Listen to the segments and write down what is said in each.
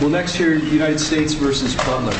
We'll next hear United States v. Butler.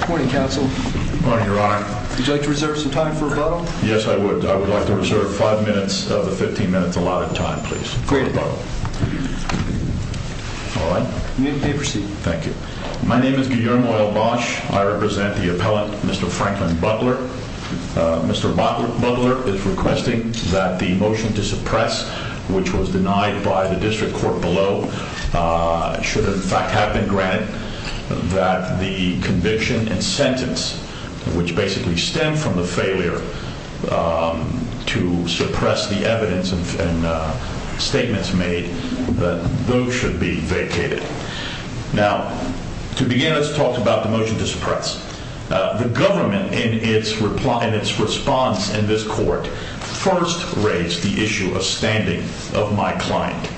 Good morning, Counsel. Good morning, Your Honor. Would you like to reserve some time for rebuttal? Yes, I would. I would like to reserve 5 minutes of the 15 minutes allotted time, please. Great. All right. You may proceed. Thank you. My name is Guillermo El Bosch. I represent the appellant, Mr. Franklin Butler. Mr. Butler is requesting that the motion to suppress, which was denied by the district court below, should in fact have been granted, that the conviction and sentence, which basically stemmed from the failure to suppress the evidence and statements made, that those should be vacated. Now, to begin, let's talk about the motion to suppress. The government, in its response in this court, first raised the issue of standing of my client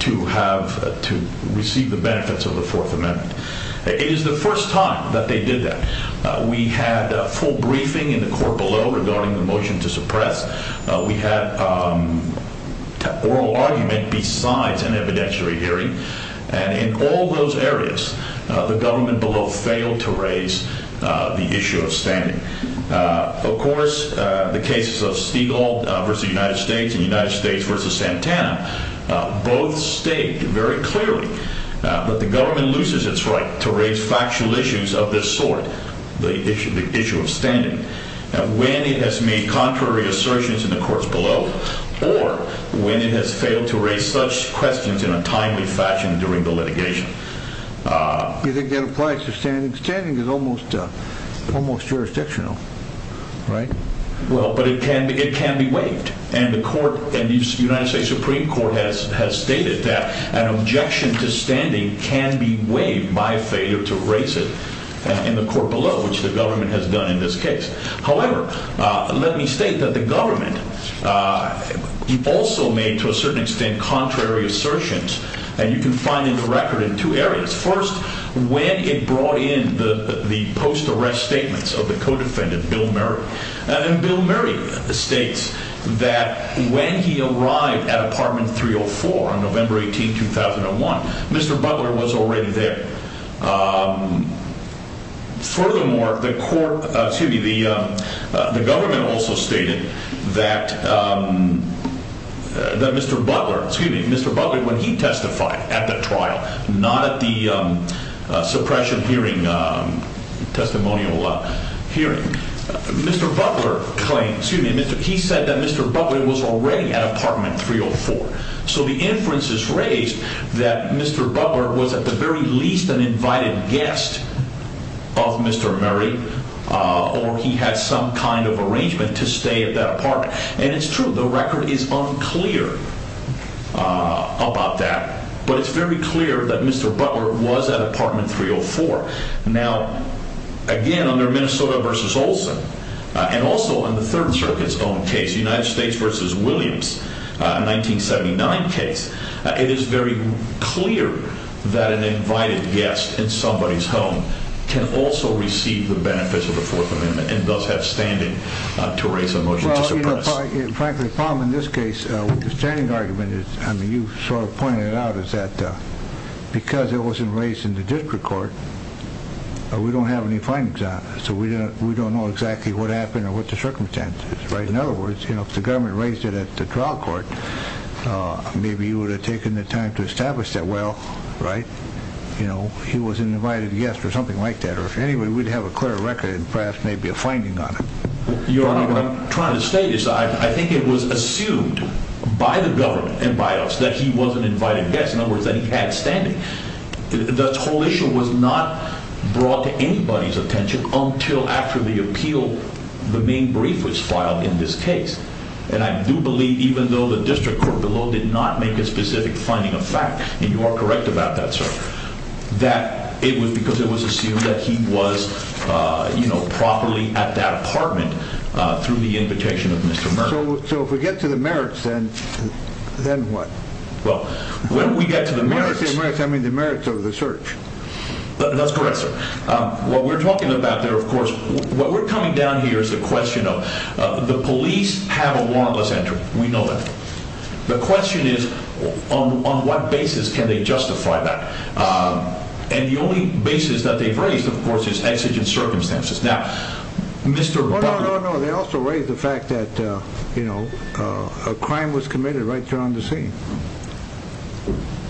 to receive the benefits of the Fourth Amendment. It is the first time that they did that. We had a full briefing in the court below regarding the motion to suppress. We had oral argument besides an evidentiary hearing. And in all those areas, the government below failed to raise the issue of standing. Of course, the cases of Stieglald v. United States and United States v. Santana, both state very clearly that the government loses its right to raise factual issues of this sort, the issue of standing, when it has made contrary assertions in the courts below or when it has failed to raise such questions in a timely fashion during the litigation. You think that applies to standing? Standing is almost jurisdictional, right? Well, but it can be waived. And the United States Supreme Court has stated that an objection to standing can be waived by failure to raise it in the court below, which the government has done in this case. However, let me state that the government also made, to a certain extent, contrary assertions. And you can find the record in two areas. First, when it brought in the post-arrest statements of the co-defendant, Bill Murray. And Bill Murray states that when he arrived at Apartment 304 on November 18, 2001, Mr. Butler was already there. Furthermore, the government also stated that Mr. Butler, when he testified at the trial, not at the suppression hearing, testimonial hearing, Mr. Butler claimed, excuse me, Mr. Keith said that Mr. Butler was already at Apartment 304. So the inference is raised that Mr. Butler was at the very least an invited guest of Mr. Murray, or he had some kind of arrangement to stay at that apartment. And it's true, the record is unclear about that. But it's very clear that Mr. Butler was at Apartment 304. Now, again, under Minnesota v. Olson, and also in the Third Circuit's own case, United States v. Williams, 1979 case, it is very clear that an invited guest in somebody's home can also receive the benefits of the Fourth Amendment and thus have standing to raise a motion to suppress. Well, frankly, the problem in this case with the standing argument is, I mean, you sort of pointed it out, is that because it wasn't raised in the district court, we don't have any findings on it. So we don't know exactly what happened or what the circumstance is. In other words, if the government raised it at the trial court, maybe you would have taken the time to establish that, well, right, he was an invited guest or something like that. Or anyway, we'd have a clear record and perhaps maybe a finding on it. Your Honor, what I'm trying to say is I think it was assumed by the government and by us that he was an invited guest. In other words, that he had standing. The whole issue was not brought to anybody's attention until after the appeal, the main brief was filed in this case. And I do believe, even though the district court below did not make a specific finding of fact, and you are correct about that, sir, that it was because it was assumed that he was, you know, properly at that apartment through the invitation of Mr. Mertz. So if we get to the merits, then what? Well, when we get to the merits. When we get to the merits, I mean the merits of the search. That's correct, sir. What we're talking about there, of course, what we're coming down here is the question of the police have a warrantless entry. We know that. The question is on what basis can they justify that? And the only basis that they've raised, of course, is exigent circumstances. Now, Mr. No, no, no, no. They also raised the fact that, you know, a crime was committed right there on the scene.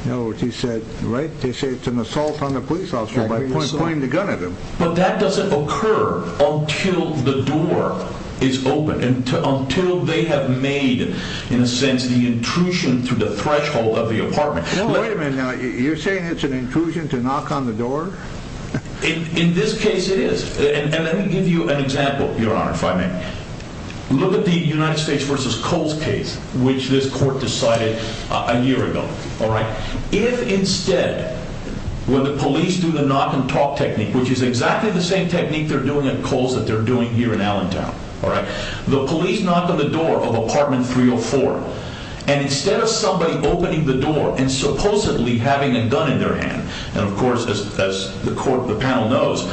In other words, he said, right? They say it's an assault on the police officer by pointing the gun at him. But that doesn't occur until the door is open and until they have made, in a sense, the intrusion through the threshold of the apartment. Wait a minute now. You're saying it's an intrusion to knock on the door? In this case, it is. And let me give you an example, Your Honor, if I may. Look at the United States versus Coles case, which this court decided a year ago. All right. If, instead, when the police do the knock and talk technique, which is exactly the same technique they're doing at Coles that they're doing here in Allentown. All right. The police knock on the door of apartment 304. And instead of somebody opening the door and supposedly having a gun in their hand. And, of course, as the court, the panel knows,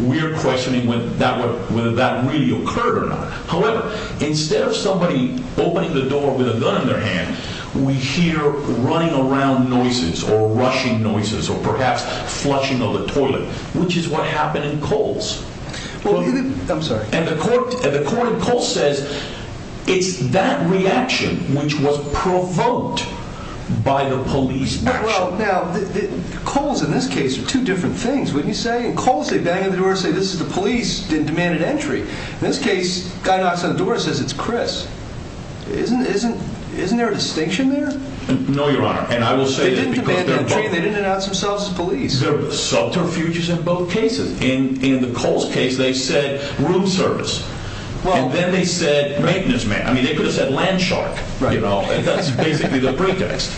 we're questioning whether that really occurred or not. However, instead of somebody opening the door with a gun in their hand, we hear running around noises or rushing noises or perhaps flushing of the toilet, which is what happened in Coles. I'm sorry. And the court in Coles says it's that reaction which was provoked by the police action. Well, now, Coles in this case are two different things, wouldn't you say? In Coles, they bang on the door and say this is the police that demanded entry. In this case, the guy knocks on the door and says it's Chris. Isn't there a distinction there? No, Your Honor. And I will say that because they're both. They didn't demand entry and they didn't announce themselves as police. There were subterfuges in both cases. In the Coles case, they said room service. Well. And then they said maintenance man. I mean, they could have said land shark. Right. You know, and that's basically the pretext.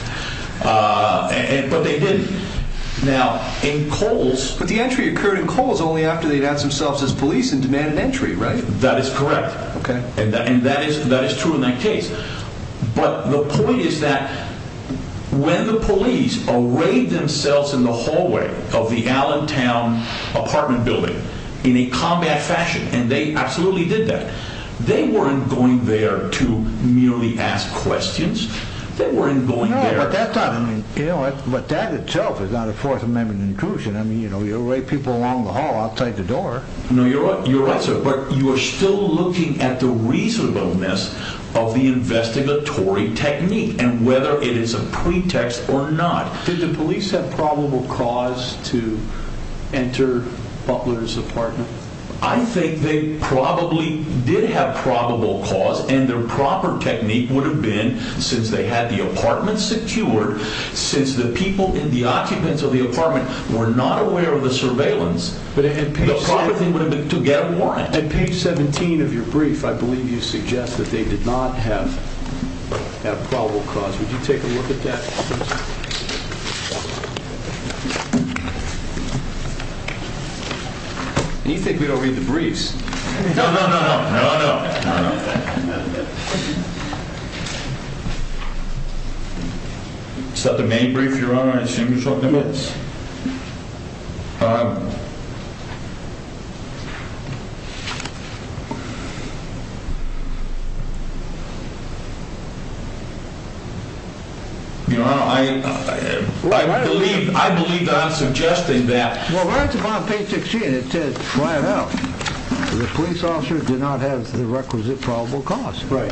But they didn't. Now, in Coles. But the entry occurred in Coles only after they announced themselves as police and demanded entry, right? That is correct. Okay. And that is true in that case. But the point is that when the police arrayed themselves in the hallway of the Allentown apartment building in a combat fashion, and they absolutely did that, they weren't going there to merely ask questions. They weren't going there. But that itself is not a Fourth Amendment intrusion. I mean, you arrayed people along the hall outside the door. No, you're right, sir. But you are still looking at the reasonableness of the investigatory technique and whether it is a pretext or not. Did the police have probable cause to enter Butler's apartment? I think they probably did have probable cause, and their proper technique would have been, since they had the apartment secured, since the people and the occupants of the apartment were not aware of the surveillance, the proper thing would have been to get a warrant. At page 17 of your brief, I believe you suggest that they did not have probable cause. Would you take a look at that, please? And you think we don't read the briefs. No, no, no, no, no, no, no. Is that the main brief, Your Honor? I assume you're talking about this. Your Honor, I believe Don's suggesting that. Well, right at the bottom of page 16, it says, the police officer did not have the requisite probable cause. Right.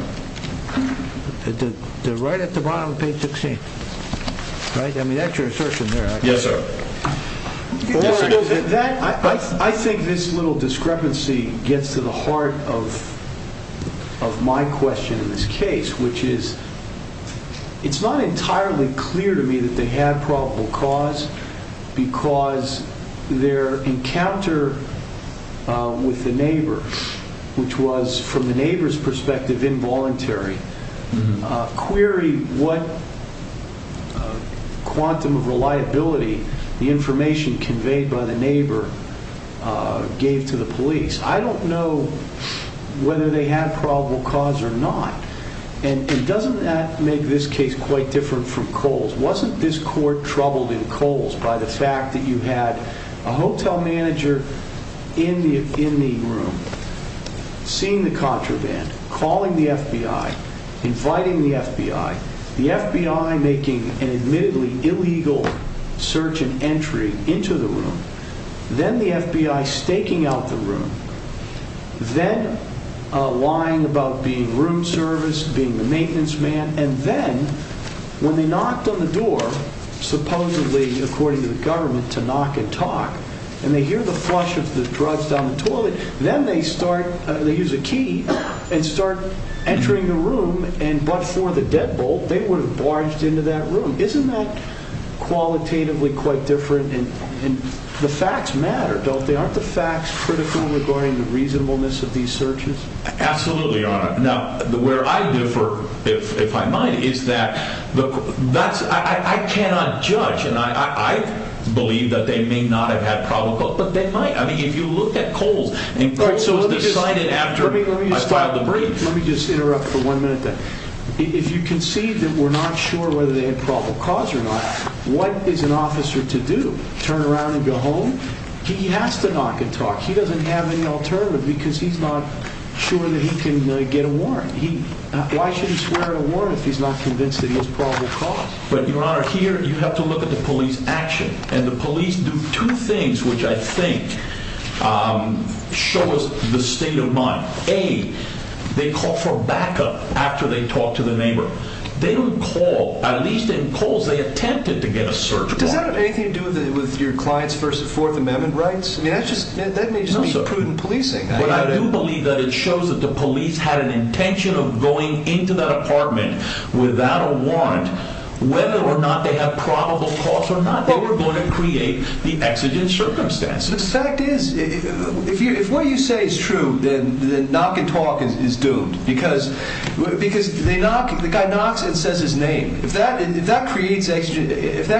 Right at the bottom of page 16. Right? Yes, sir. I think this little discrepancy gets to the heart of my question in this case, which is, it's not entirely clear to me that they had probable cause, because their encounter with the neighbor, which was, from the neighbor's perspective, involuntary, query what quantum of reliability the information conveyed by the neighbor gave to the police. I don't know whether they had probable cause or not. And doesn't that make this case quite different from Coles? Wasn't this court troubled in Coles by the fact that you had a hotel manager in the room, seeing the contraband, calling the FBI, inviting the FBI, the FBI making an admittedly illegal search and entry into the room, then the FBI staking out the room, then lying about being room service, being the maintenance man, and then, when they knocked on the door, supposedly, according to the government, to knock and talk, and they hear the flush of the drugs down the toilet, then they start, they use a key, and start entering the room, and but for the deadbolt, they would have barged into that room. Isn't that qualitatively quite different? And the facts matter, don't they? Aren't the facts critical regarding the reasonableness of these searches? Absolutely, Your Honor. Now, where I differ, if I might, is that I cannot judge, and I believe that they may not have had probable cause, but they might. I mean, if you look at Coles, and Coles was decided after I filed the brief. Let me just interrupt for one minute there. If you concede that we're not sure whether they had probable cause or not, what is an officer to do? Turn around and go home? He has to knock and talk. He doesn't have any alternative because he's not sure that he can get a warrant. Why should he swear a warrant if he's not convinced that he has probable cause? But, Your Honor, here you have to look at the police action, and the police do two things which I think show us the state of mind. A, they call for backup after they talk to the neighbor. They don't call. At least in Coles, they attempted to get a search warrant. Does that have anything to do with your client's First and Fourth Amendment rights? I mean, that may just be prudent policing. But I do believe that it shows that the police had an intention of going into that apartment without a warrant whether or not they have probable cause or not. They were going to create the exigent circumstances. The fact is, if what you say is true, then the knock and talk is doomed because the guy knocks and says his name. If that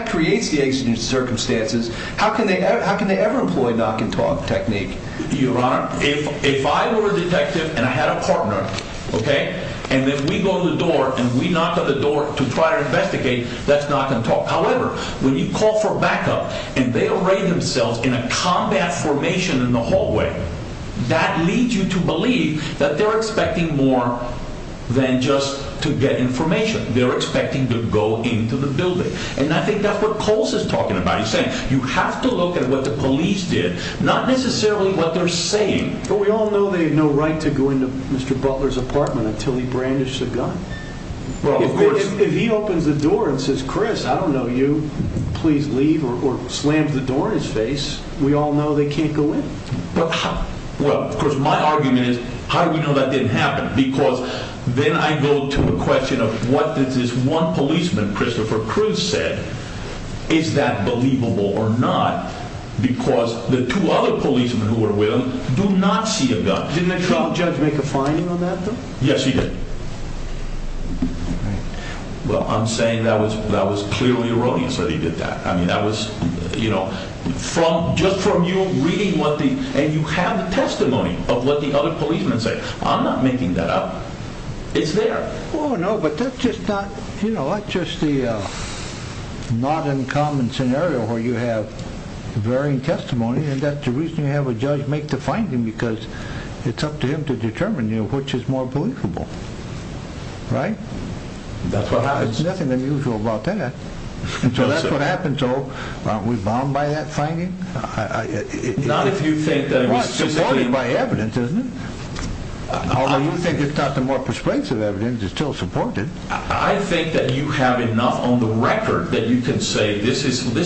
creates the exigent circumstances, how can they ever employ knock and talk technique? Your Honor, if I were a detective and I had a partner, okay, and if we go to the door and we knock on the door to try to investigate, that's knock and talk. However, when you call for backup and they array themselves in a combat formation in the hallway, that leads you to believe that they're expecting more than just to get information. They're expecting to go into the building. And I think that's what Coles is talking about. He's saying you have to look at what the police did, not necessarily what they're saying. But we all know they have no right to go into Mr. Butler's apartment until he brandishes a gun. Well, of course. If he opens the door and says, Chris, I don't know you, please leave, or slams the door in his face, we all know they can't go in. Well, of course, my argument is how do we know that didn't happen? Because then I go to a question of what did this one policeman, Christopher Cruz, said? Is that believable or not? Because the two other policemen who were with him do not see a gun. Didn't the chief judge make a finding on that, though? Yes, he did. Well, I'm saying that was clearly erroneous that he did that. I mean, that was, you know, just from you reading what the, and you have the testimony of what the other policemen say. I'm not making that up. It's there. Oh, no, but that's just not, you know, that's just the not uncommon scenario where you have varying testimony, and that's the reason you have a judge make the finding because it's up to him to determine, you know, which is more believable. Right? That's what happens. There's nothing unusual about that. And so that's what happened. So aren't we bound by that finding? Not if you think that it was specifically. It's supported by evidence, isn't it? Although you think it's not the more persuasive evidence, it's still supported. I think that you have enough on the record that you can say this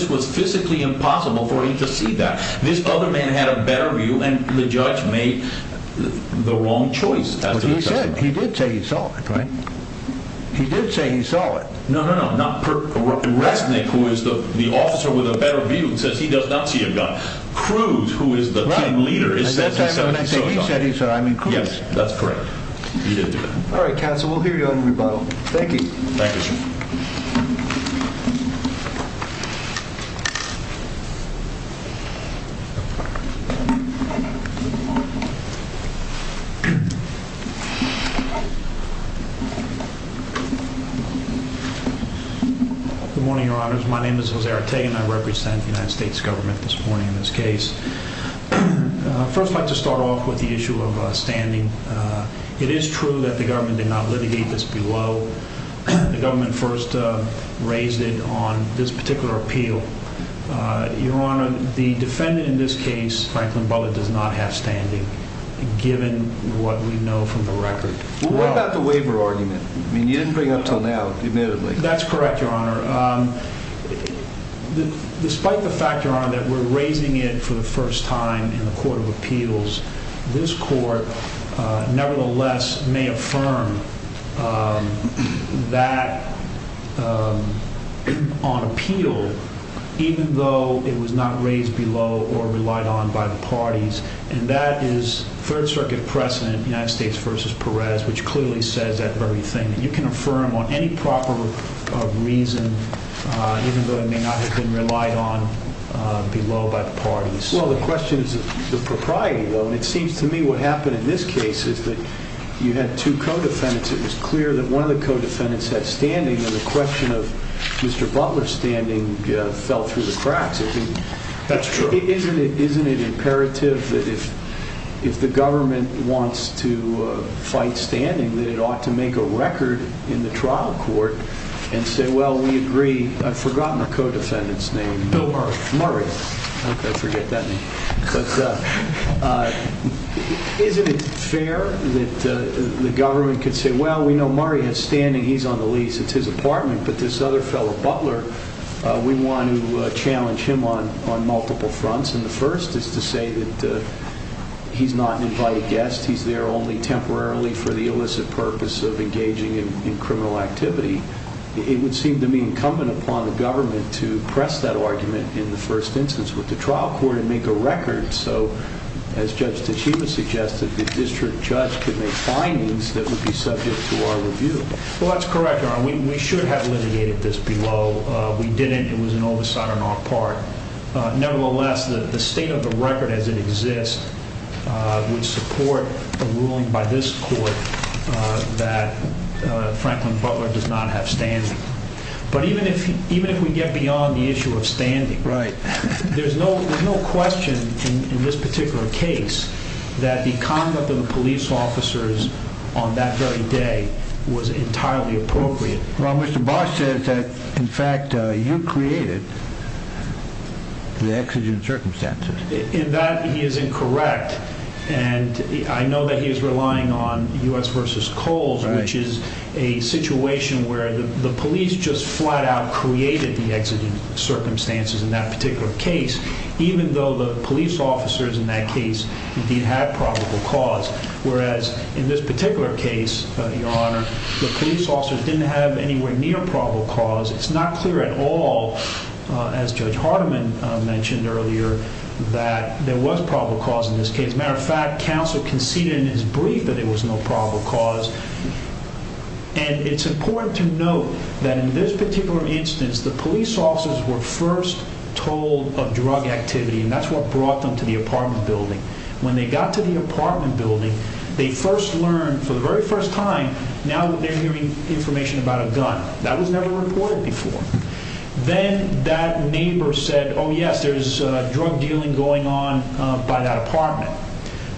was physically impossible for him to see that. This other man had a better view, and the judge made the wrong choice. He did say he saw it, right? He did say he saw it. No, no, no. Resnick, who is the officer with a better view, says he does not see a gun. Cruz, who is the team leader, says he saw it. He said he saw it. I mean, Cruz. Yes, that's correct. He did do that. All right, counsel, we'll hear you on the rebuttal. Thank you. Thank you, sir. Good morning, Your Honors. My name is Jose Artegui, and I represent the United States government this morning in this case. I'd first like to start off with the issue of standing. It is true that the government did not litigate this below. The government first raised it on this particular appeal. Your Honor, the defendant in this case, Franklin Bullitt, does not have standing, given what we know from the record. What about the waiver argument? I mean, you didn't bring it up until now, admittedly. That's correct, Your Honor. Despite the fact, Your Honor, that we're raising it for the first time in the court of appeals, this court nevertheless may affirm that on appeal, even though it was not raised below or relied on by the parties. And that is Third Circuit precedent, United States v. Perez, which clearly says that very thing. You can affirm on any proper reason, even though it may not have been relied on below by the parties. Well, the question is the propriety, though. It seems to me what happened in this case is that you had two co-defendants. It was clear that one of the co-defendants had standing, and the question of Mr. Butler's standing fell through the cracks. That's true. Isn't it imperative that if the government wants to fight standing, that it ought to make a record in the trial court and say, well, we agree. I've forgotten the co-defendant's name. Bill Murray. Murray. Okay, forget that name. But isn't it fair that the government could say, well, we know Murray has standing. He's on the lease. It's his apartment. But this other fellow, Butler, we want to challenge him on multiple fronts. And the first is to say that he's not an invited guest. He's there only temporarily for the illicit purpose of engaging in criminal activity. It would seem to me incumbent upon the government to press that argument in the first instance with the trial court and make a record so, as Judge Tachiba suggested, the district judge could make findings that would be subject to our review. Well, that's correct, Your Honor. We should have litigated this below. We didn't. It was an oversight on our part. Nevertheless, the state of the record as it exists would support the ruling by this court that Franklin Butler does not have standing. But even if we get beyond the issue of standing, there's no question in this particular case that the conduct of the police officers on that very day was entirely appropriate. Well, Mr. Barr says that, in fact, you created the exigent circumstances. In that, he is incorrect. And I know that he is relying on U.S. v. Coles, which is a situation where the police just flat-out created the exigent circumstances in that particular case, even though the police officers in that case did have probable cause. Whereas, in this particular case, Your Honor, the police officers didn't have anywhere near probable cause. It's not clear at all, as Judge Hardiman mentioned earlier, that there was probable cause in this case. As a matter of fact, counsel conceded in his brief that there was no probable cause. And it's important to note that in this particular instance, the police officers were first told of drug activity, and that's what brought them to the apartment building. When they got to the apartment building, they first learned, for the very first time, now that they're hearing information about a gun. That was never reported before. Then that neighbor said, oh, yes, there's drug dealing going on by that apartment.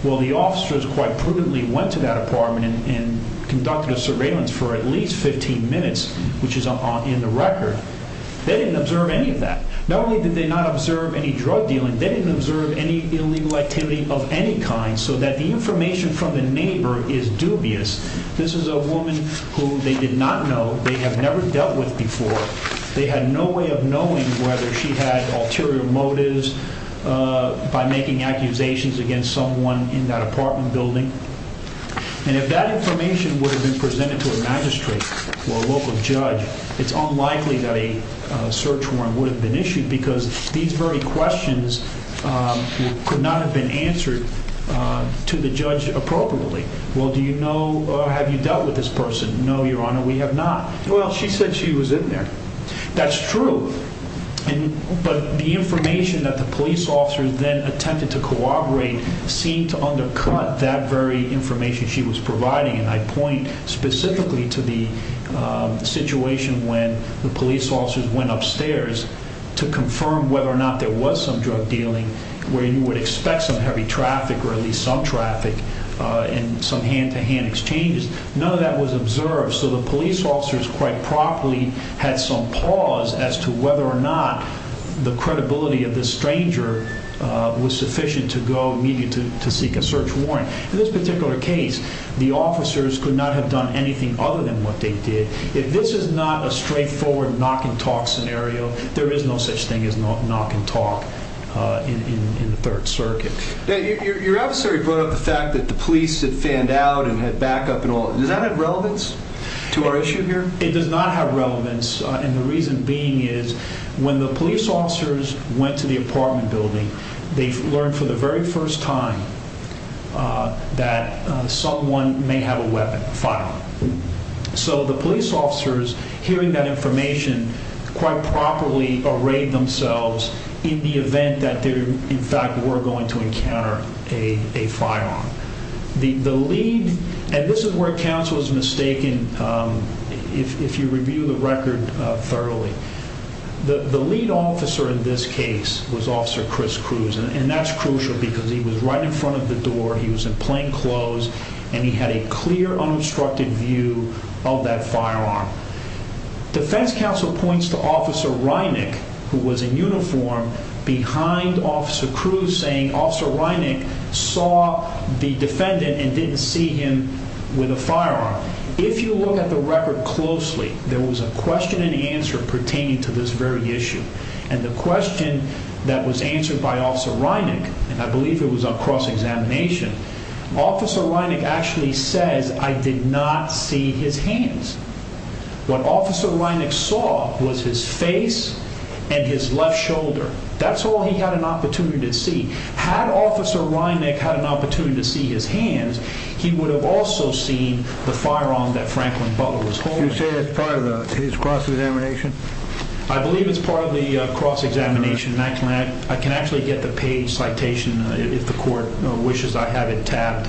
Well, the officers quite prudently went to that apartment and conducted a surveillance for at least 15 minutes, which is in the record. They didn't observe any of that. Not only did they not observe any drug dealing, they didn't observe any illegal activity of any kind, so that the information from the neighbor is dubious. This is a woman who they did not know. They have never dealt with before. They had no way of knowing whether she had ulterior motives by making accusations against someone in that apartment building. And if that information would have been presented to a magistrate or a local judge, it's unlikely that a search warrant would have been issued because these very questions could not have been answered to the judge appropriately. Well, do you know or have you dealt with this person? No, Your Honor, we have not. Well, she said she was in there. That's true. But the information that the police officers then attempted to corroborate seemed to undercut that very information she was providing. And I point specifically to the situation when the police officers went upstairs to confirm whether or not there was some drug dealing where you would expect some heavy traffic or at least some traffic and some hand-to-hand exchanges. None of that was observed. So the police officers quite properly had some pause as to whether or not the credibility of this stranger was sufficient to go immediately to seek a search warrant. In this particular case, the officers could not have done anything other than what they did. If this is not a straightforward knock-and-talk scenario, there is no such thing as knock-and-talk in the Third Circuit. Now, your adversary brought up the fact that the police had fanned out and had backup and all. Does that have relevance to our issue here? It does not have relevance, and the reason being is when the police officers went to the apartment building, they learned for the very first time that someone may have a weapon, a firearm. So the police officers, hearing that information, quite properly arrayed themselves in the event that they, in fact, were going to encounter a firearm. The lead, and this is where counsel is mistaken if you review the record thoroughly, the lead officer in this case was Officer Chris Cruz, and that's crucial because he was right in front of the door. He was in plain clothes, and he had a clear, unobstructed view of that firearm. Defense counsel points to Officer Reinick, who was in uniform, behind Officer Cruz, saying Officer Reinick saw the defendant and didn't see him with a firearm. If you look at the record closely, there was a question and answer pertaining to this very issue, and the question that was answered by Officer Reinick, and I believe it was on cross-examination, Officer Reinick actually says, I did not see his hands. What Officer Reinick saw was his face and his left shoulder. That's all he had an opportunity to see. Had Officer Reinick had an opportunity to see his hands, he would have also seen the firearm that Franklin Butler was holding. You say that's part of his cross-examination? I believe it's part of the cross-examination, and I can actually get the page citation if the court wishes I have it tabbed.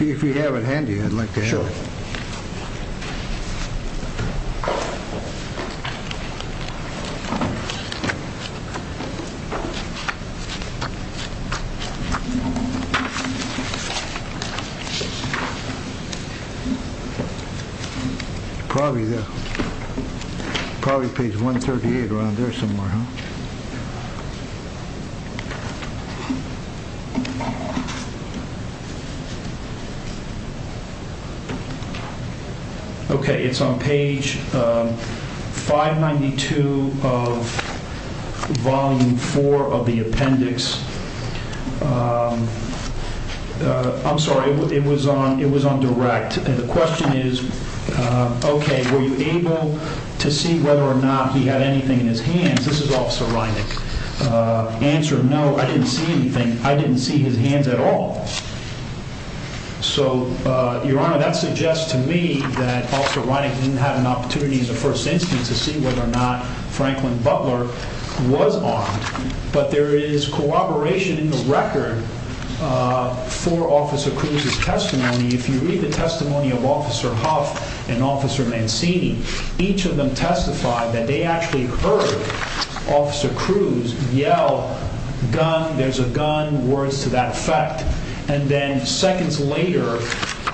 If you have it handy, I'd like to have it. Sure. Probably page 138 around there somewhere, huh? Okay, it's on page 592 of Volume 4 of the appendix. I'm sorry, it was on direct, and the question is, okay, were you able to see whether or not he had anything in his hands? This is Officer Reinick. Answer, no, I didn't see anything. I didn't see his hands at all. So, Your Honor, that suggests to me that Officer Reinick didn't have an opportunity in the first instance to see whether or not Franklin Butler was armed. But there is corroboration in the record for Officer Cruz's testimony. If you read the testimony of Officer Huff and Officer Mancini, each of them testified that they actually heard Officer Cruz yell, gun, there's a gun, words to that effect. And then seconds later,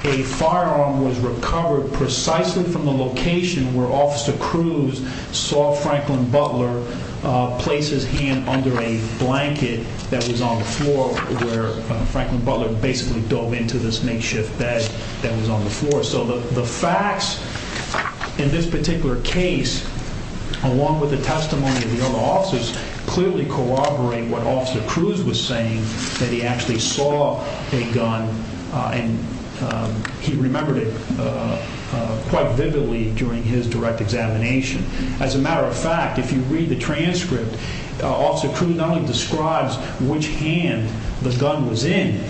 a firearm was recovered precisely from the location where Officer Cruz saw Franklin Butler place his hand under a blanket that was on the floor where Franklin Butler basically dove into this makeshift bed that was on the floor. So the facts in this particular case, along with the testimony of the other officers, clearly corroborate what Officer Cruz was saying, that he actually saw a gun and he remembered it quite vividly during his direct examination. As a matter of fact, if you read the transcript, Officer Cruz not only describes which hand the gun was in,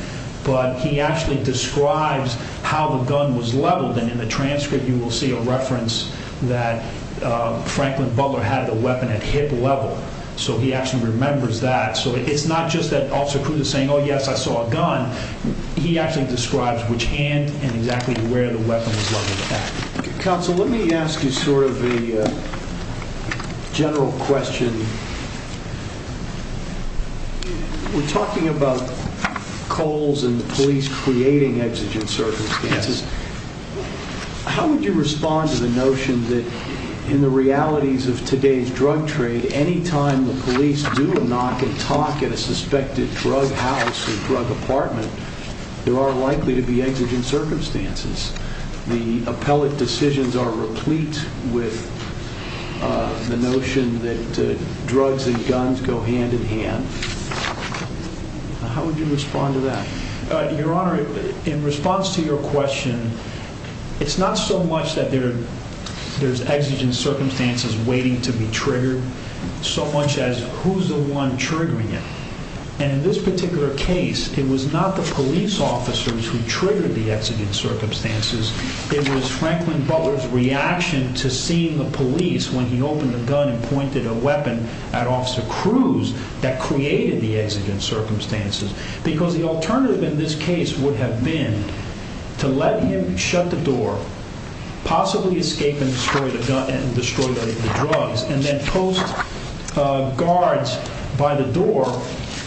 but he actually describes how the gun was leveled. And in the transcript, you will see a reference that Franklin Butler had a weapon at hip level. So he actually remembers that. So it's not just that Officer Cruz is saying, oh, yes, I saw a gun. He actually describes which hand and exactly where the weapon was leveled at. Counsel, let me ask you sort of a general question. We're talking about coals and the police creating exigent circumstances. How would you respond to the notion that in the realities of today's drug trade, anytime the police do a knock and talk at a suspected drug house or drug apartment, there are likely to be exigent circumstances. The appellate decisions are replete with the notion that drugs and guns go hand in hand. How would you respond to that? Your Honor, in response to your question, it's not so much that there's exigent circumstances waiting to be triggered, so much as who's the one triggering it. And in this particular case, it was not the police officers who triggered the exigent circumstances. It was Franklin Butler's reaction to seeing the police when he opened the gun and pointed a weapon at Officer Cruz that created the exigent circumstances. Because the alternative in this case would have been to let him shut the door, possibly escape and destroy the gun and destroy the drugs, and then post guards by the door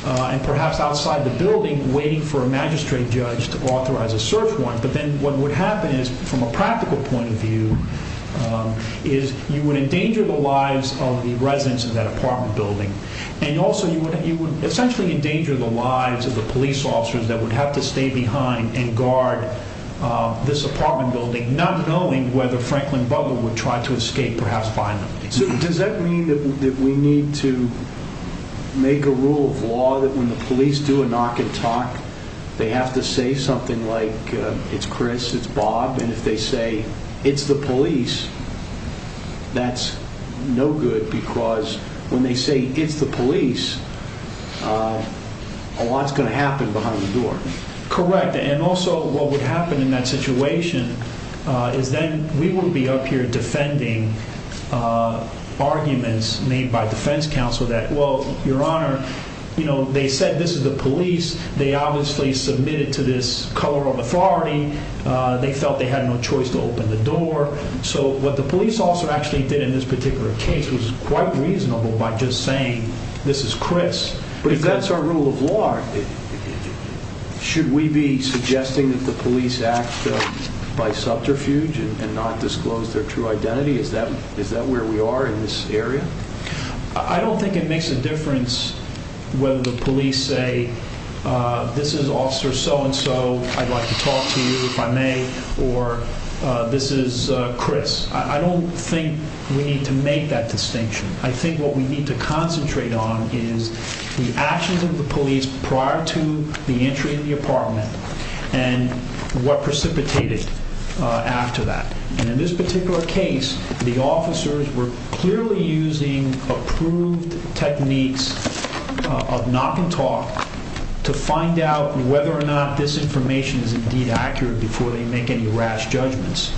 and perhaps outside the building waiting for a magistrate judge to authorize a search warrant. But then what would happen is, from a practical point of view, is you would endanger the lives of the residents of that apartment building. And also you would essentially endanger the lives of the police officers that would have to stay behind and guard this apartment building, not knowing whether Franklin Butler would try to escape, perhaps find them. So does that mean that we need to make a rule of law that when the police do a knock and talk, they have to say something like, it's Chris, it's Bob, and if they say, it's the police, that's no good because when they say, it's the police, a lot's going to happen behind the door. Correct, and also what would happen in that situation is then we would be up here defending arguments made by defense counsel that, well, your honor, they said this is the police. They obviously submitted to this color of authority. They felt they had no choice to open the door. So what the police officer actually did in this particular case was quite reasonable by just saying, this is Chris. But if that's our rule of law, should we be suggesting that the police act by subterfuge and not disclose their true identity? Is that where we are in this area? I don't think it makes a difference whether the police say, this is officer so-and-so. I'd like to talk to you if I may, or this is Chris. I don't think we need to make that distinction. I think what we need to concentrate on is the actions of the police prior to the entry in the apartment and what precipitated after that. And in this particular case, the officers were clearly using approved techniques of knock and talk to find out whether or not this information is indeed accurate before they make any rash judgments.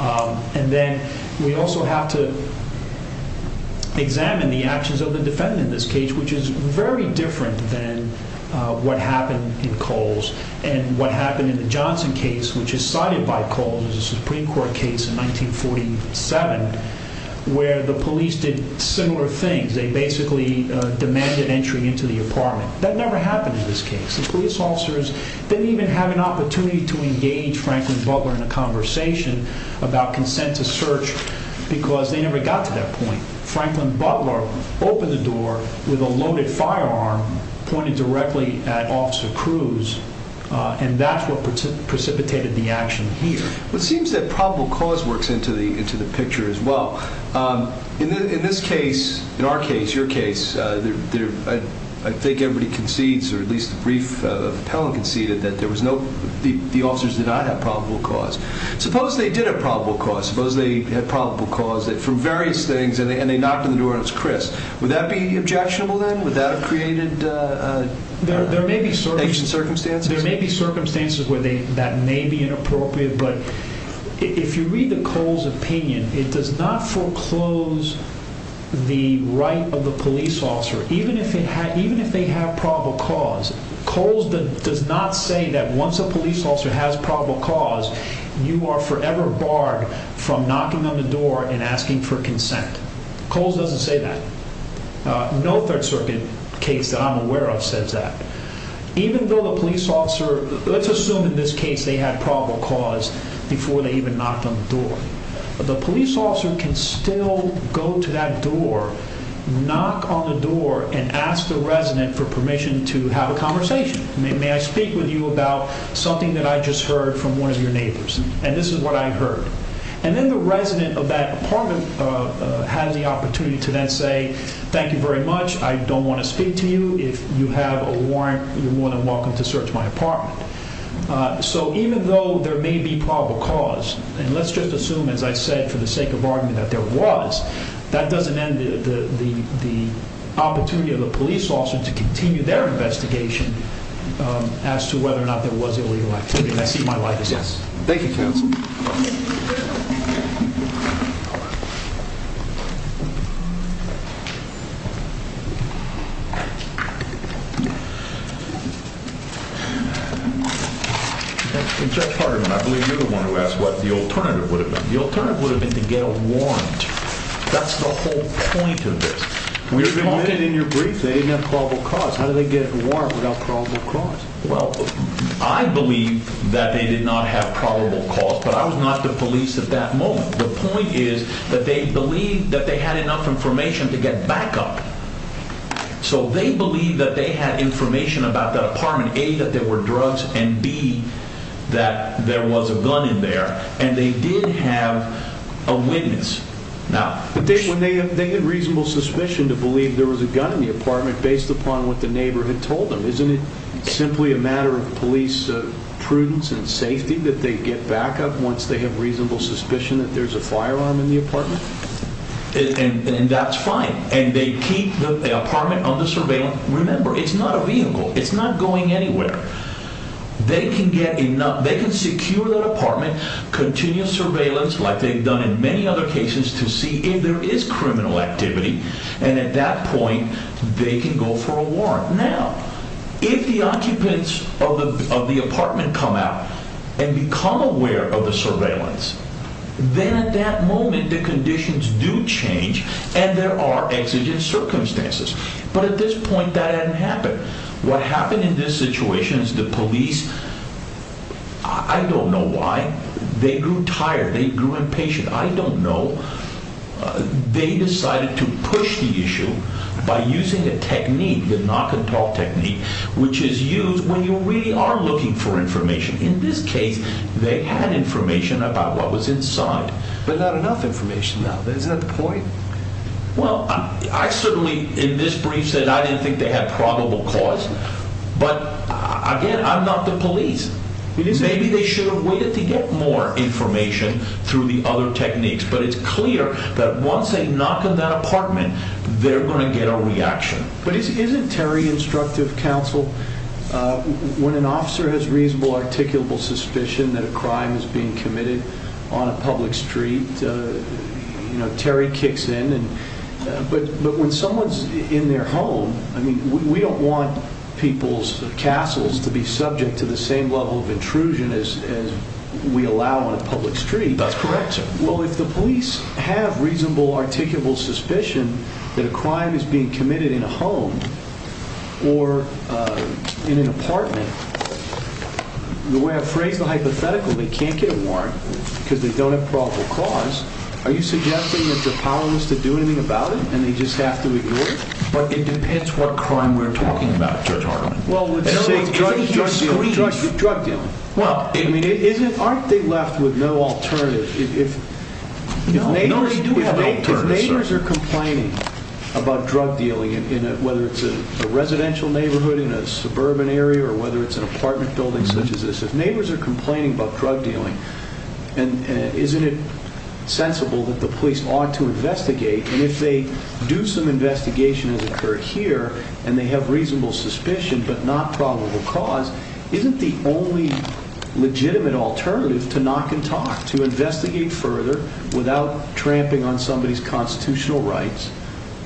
And then we also have to examine the actions of the defendant in this case, which is very different than what happened in Coles. And what happened in the Johnson case, which is cited by Coles as a Supreme Court case in 1947, where the police did similar things. They basically demanded entry into the apartment. That never happened in this case. The police officers didn't even have an opportunity to engage Franklin Butler in a conversation about consent to search because they never got to that point. Franklin Butler opened the door with a loaded firearm pointed directly at Officer Cruz, and that's what precipitated the action here. It seems that probable cause works into the picture as well. In this case, in our case, your case, I think everybody concedes, or at least the brief of Appellant conceded, that the officers did not have probable cause. Suppose they did have probable cause. Suppose they had probable cause for various things, and they knocked on the door and it was Chris. Would that be objectionable then? Would that have created ancient circumstances? There may be circumstances where that may be inappropriate, but if you read the Coles opinion, it does not foreclose the right of the police officer, even if they have probable cause. Coles does not say that once a police officer has probable cause, you are forever barred from knocking on the door and asking for consent. Coles doesn't say that. No Third Circuit case that I'm aware of says that. Even though the police officer, let's assume in this case they had probable cause before they even knocked on the door, the police officer can still go to that door, knock on the door, and ask the resident for permission to have a conversation. May I speak with you about something that I just heard from one of your neighbors? And this is what I heard. And then the resident of that apartment has the opportunity to then say, thank you very much. I don't want to speak to you. If you have a warrant, you're more than welcome to search my apartment. So even though there may be probable cause, and let's just assume, as I said, for the sake of argument that there was, that doesn't end the opportunity of the police officer to continue their investigation as to whether or not there was illegal activity. And I see my life as less. Thank you, counsel. Judge Parderman, I believe you're the one who asked what the alternative would have been. The alternative would have been to get a warrant. That's the whole point of this. When you're talking in your brief, they didn't have probable cause. How do they get a warrant without probable cause? Well, I believe that they did not have probable cause, but I was not the police at that moment. The point is that they believed that they had enough information to get backup. So they believed that they had information about that apartment, A, that there were drugs, and B, that there was a gun in there. And they did have a witness. Now, when they had reasonable suspicion to believe there was a gun in the apartment based upon what the neighbor had told them, isn't it simply a matter of police prudence and safety that they get backup once they have reasonable suspicion that there's a firearm in the apartment? And that's fine. And they keep the apartment under surveillance. Remember, it's not a vehicle. It's not going anywhere. They can secure that apartment, continue surveillance like they've done in many other cases to see if there is criminal activity. And at that point, they can go for a warrant. Now, if the occupants of the apartment come out and become aware of the surveillance, then at that moment the conditions do change and there are exigent circumstances. But at this point, that hadn't happened. What happened in this situation is the police, I don't know why, they grew tired. They grew impatient. I don't know. They decided to push the issue by using a technique, the knock and talk technique, which is used when you really are looking for information. In this case, they had information about what was inside. But not enough information now. Isn't that the point? Well, I certainly, in this brief, said I didn't think they had probable cause. But, again, I'm not the police. Maybe they should have waited to get more information through the other techniques. But it's clear that once they knock on that apartment, they're going to get a reaction. But isn't Terry instructive counsel? When an officer has reasonable articulable suspicion that a crime is being committed on a public street, Terry kicks in. But when someone's in their home, we don't want people's castles to be subject to the same level of intrusion as we allow on a public street. That's correct, sir. Well, if the police have reasonable articulable suspicion that a crime is being committed in a home or in an apartment, the way I phrase the hypothetical, they can't get a warrant because they don't have probable cause. Are you suggesting that they're powerless to do anything about it and they just have to ignore it? But it depends what crime we're talking about, Judge Hartman. Well, let's say drug dealing. Aren't they left with no alternative? If neighbors are complaining about drug dealing, whether it's a residential neighborhood in a suburban area or whether it's an apartment building such as this, if neighbors are complaining about drug dealing, isn't it sensible that the police ought to investigate? And if they do some investigation as occurred here and they have reasonable suspicion but not probable cause, isn't the only legitimate alternative to knock and talk, to investigate further without tramping on somebody's constitutional rights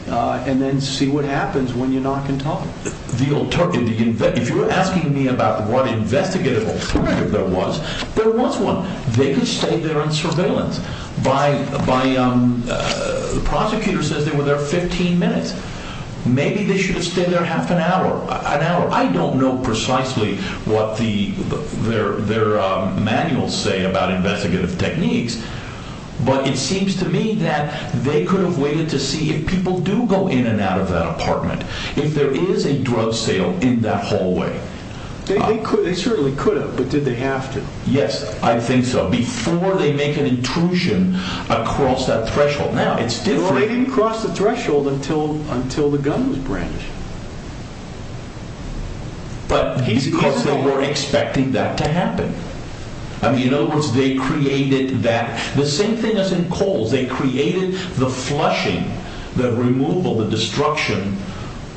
and then see what happens when you knock and talk? If you're asking me about what investigative alternative there was, there was one. They could stay there in surveillance. The prosecutor says they were there 15 minutes. Maybe they should have stayed there half an hour, an hour. I don't know precisely what their manuals say about investigative techniques, but it seems to me that they could have waited to see if people do go in and out of that apartment, if there is a drug sale in that hallway. They certainly could have, but did they have to? Yes, I think so. Before they make an intrusion across that threshold. Now, it's different. They didn't cross the threshold until the gun was brandished. Because they weren't expecting that to happen. In other words, they created that. The same thing as in Coles. They created the flushing, the removal, the destruction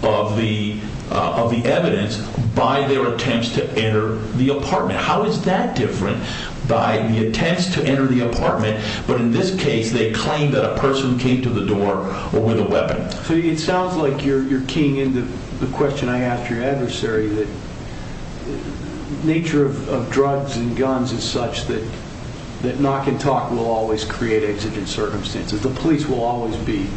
of the evidence by their attempts to enter the apartment. How is that different by the attempts to enter the apartment, but in this case they claim that a person came to the door with a weapon? It sounds like you're keying into the question I asked your adversary. The nature of drugs and guns is such that knock and talk will always create exigent circumstances. The police will always be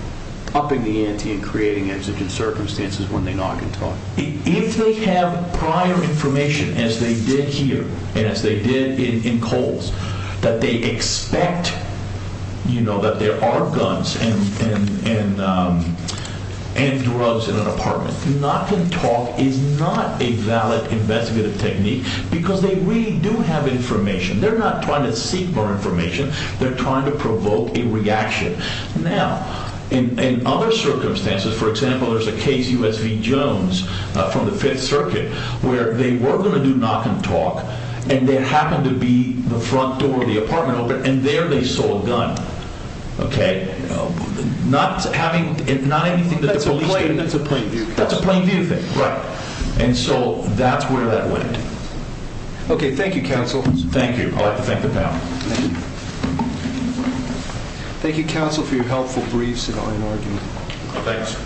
upping the ante and creating exigent circumstances when they knock and talk. If they have prior information, as they did here, and as they did in Coles, that they expect that there are guns and drugs in an apartment, knock and talk is not a valid investigative technique because they really do have information. They're not trying to seek more information. They're trying to provoke a reaction. Now, in other circumstances, for example, there's a case, U.S. v. Jones, from the Fifth Circuit, where they were going to do knock and talk, and there happened to be the front door of the apartment open, and there they saw a gun. Okay? Not having anything that the police did. That's a plain view. That's a plain view thing. Right. And so that's where that went. Okay. Thank you, counsel. Thank you. I'd like to thank the panel. Thank you. Thank you, counsel, for your helpful briefs on an argument. Thanks.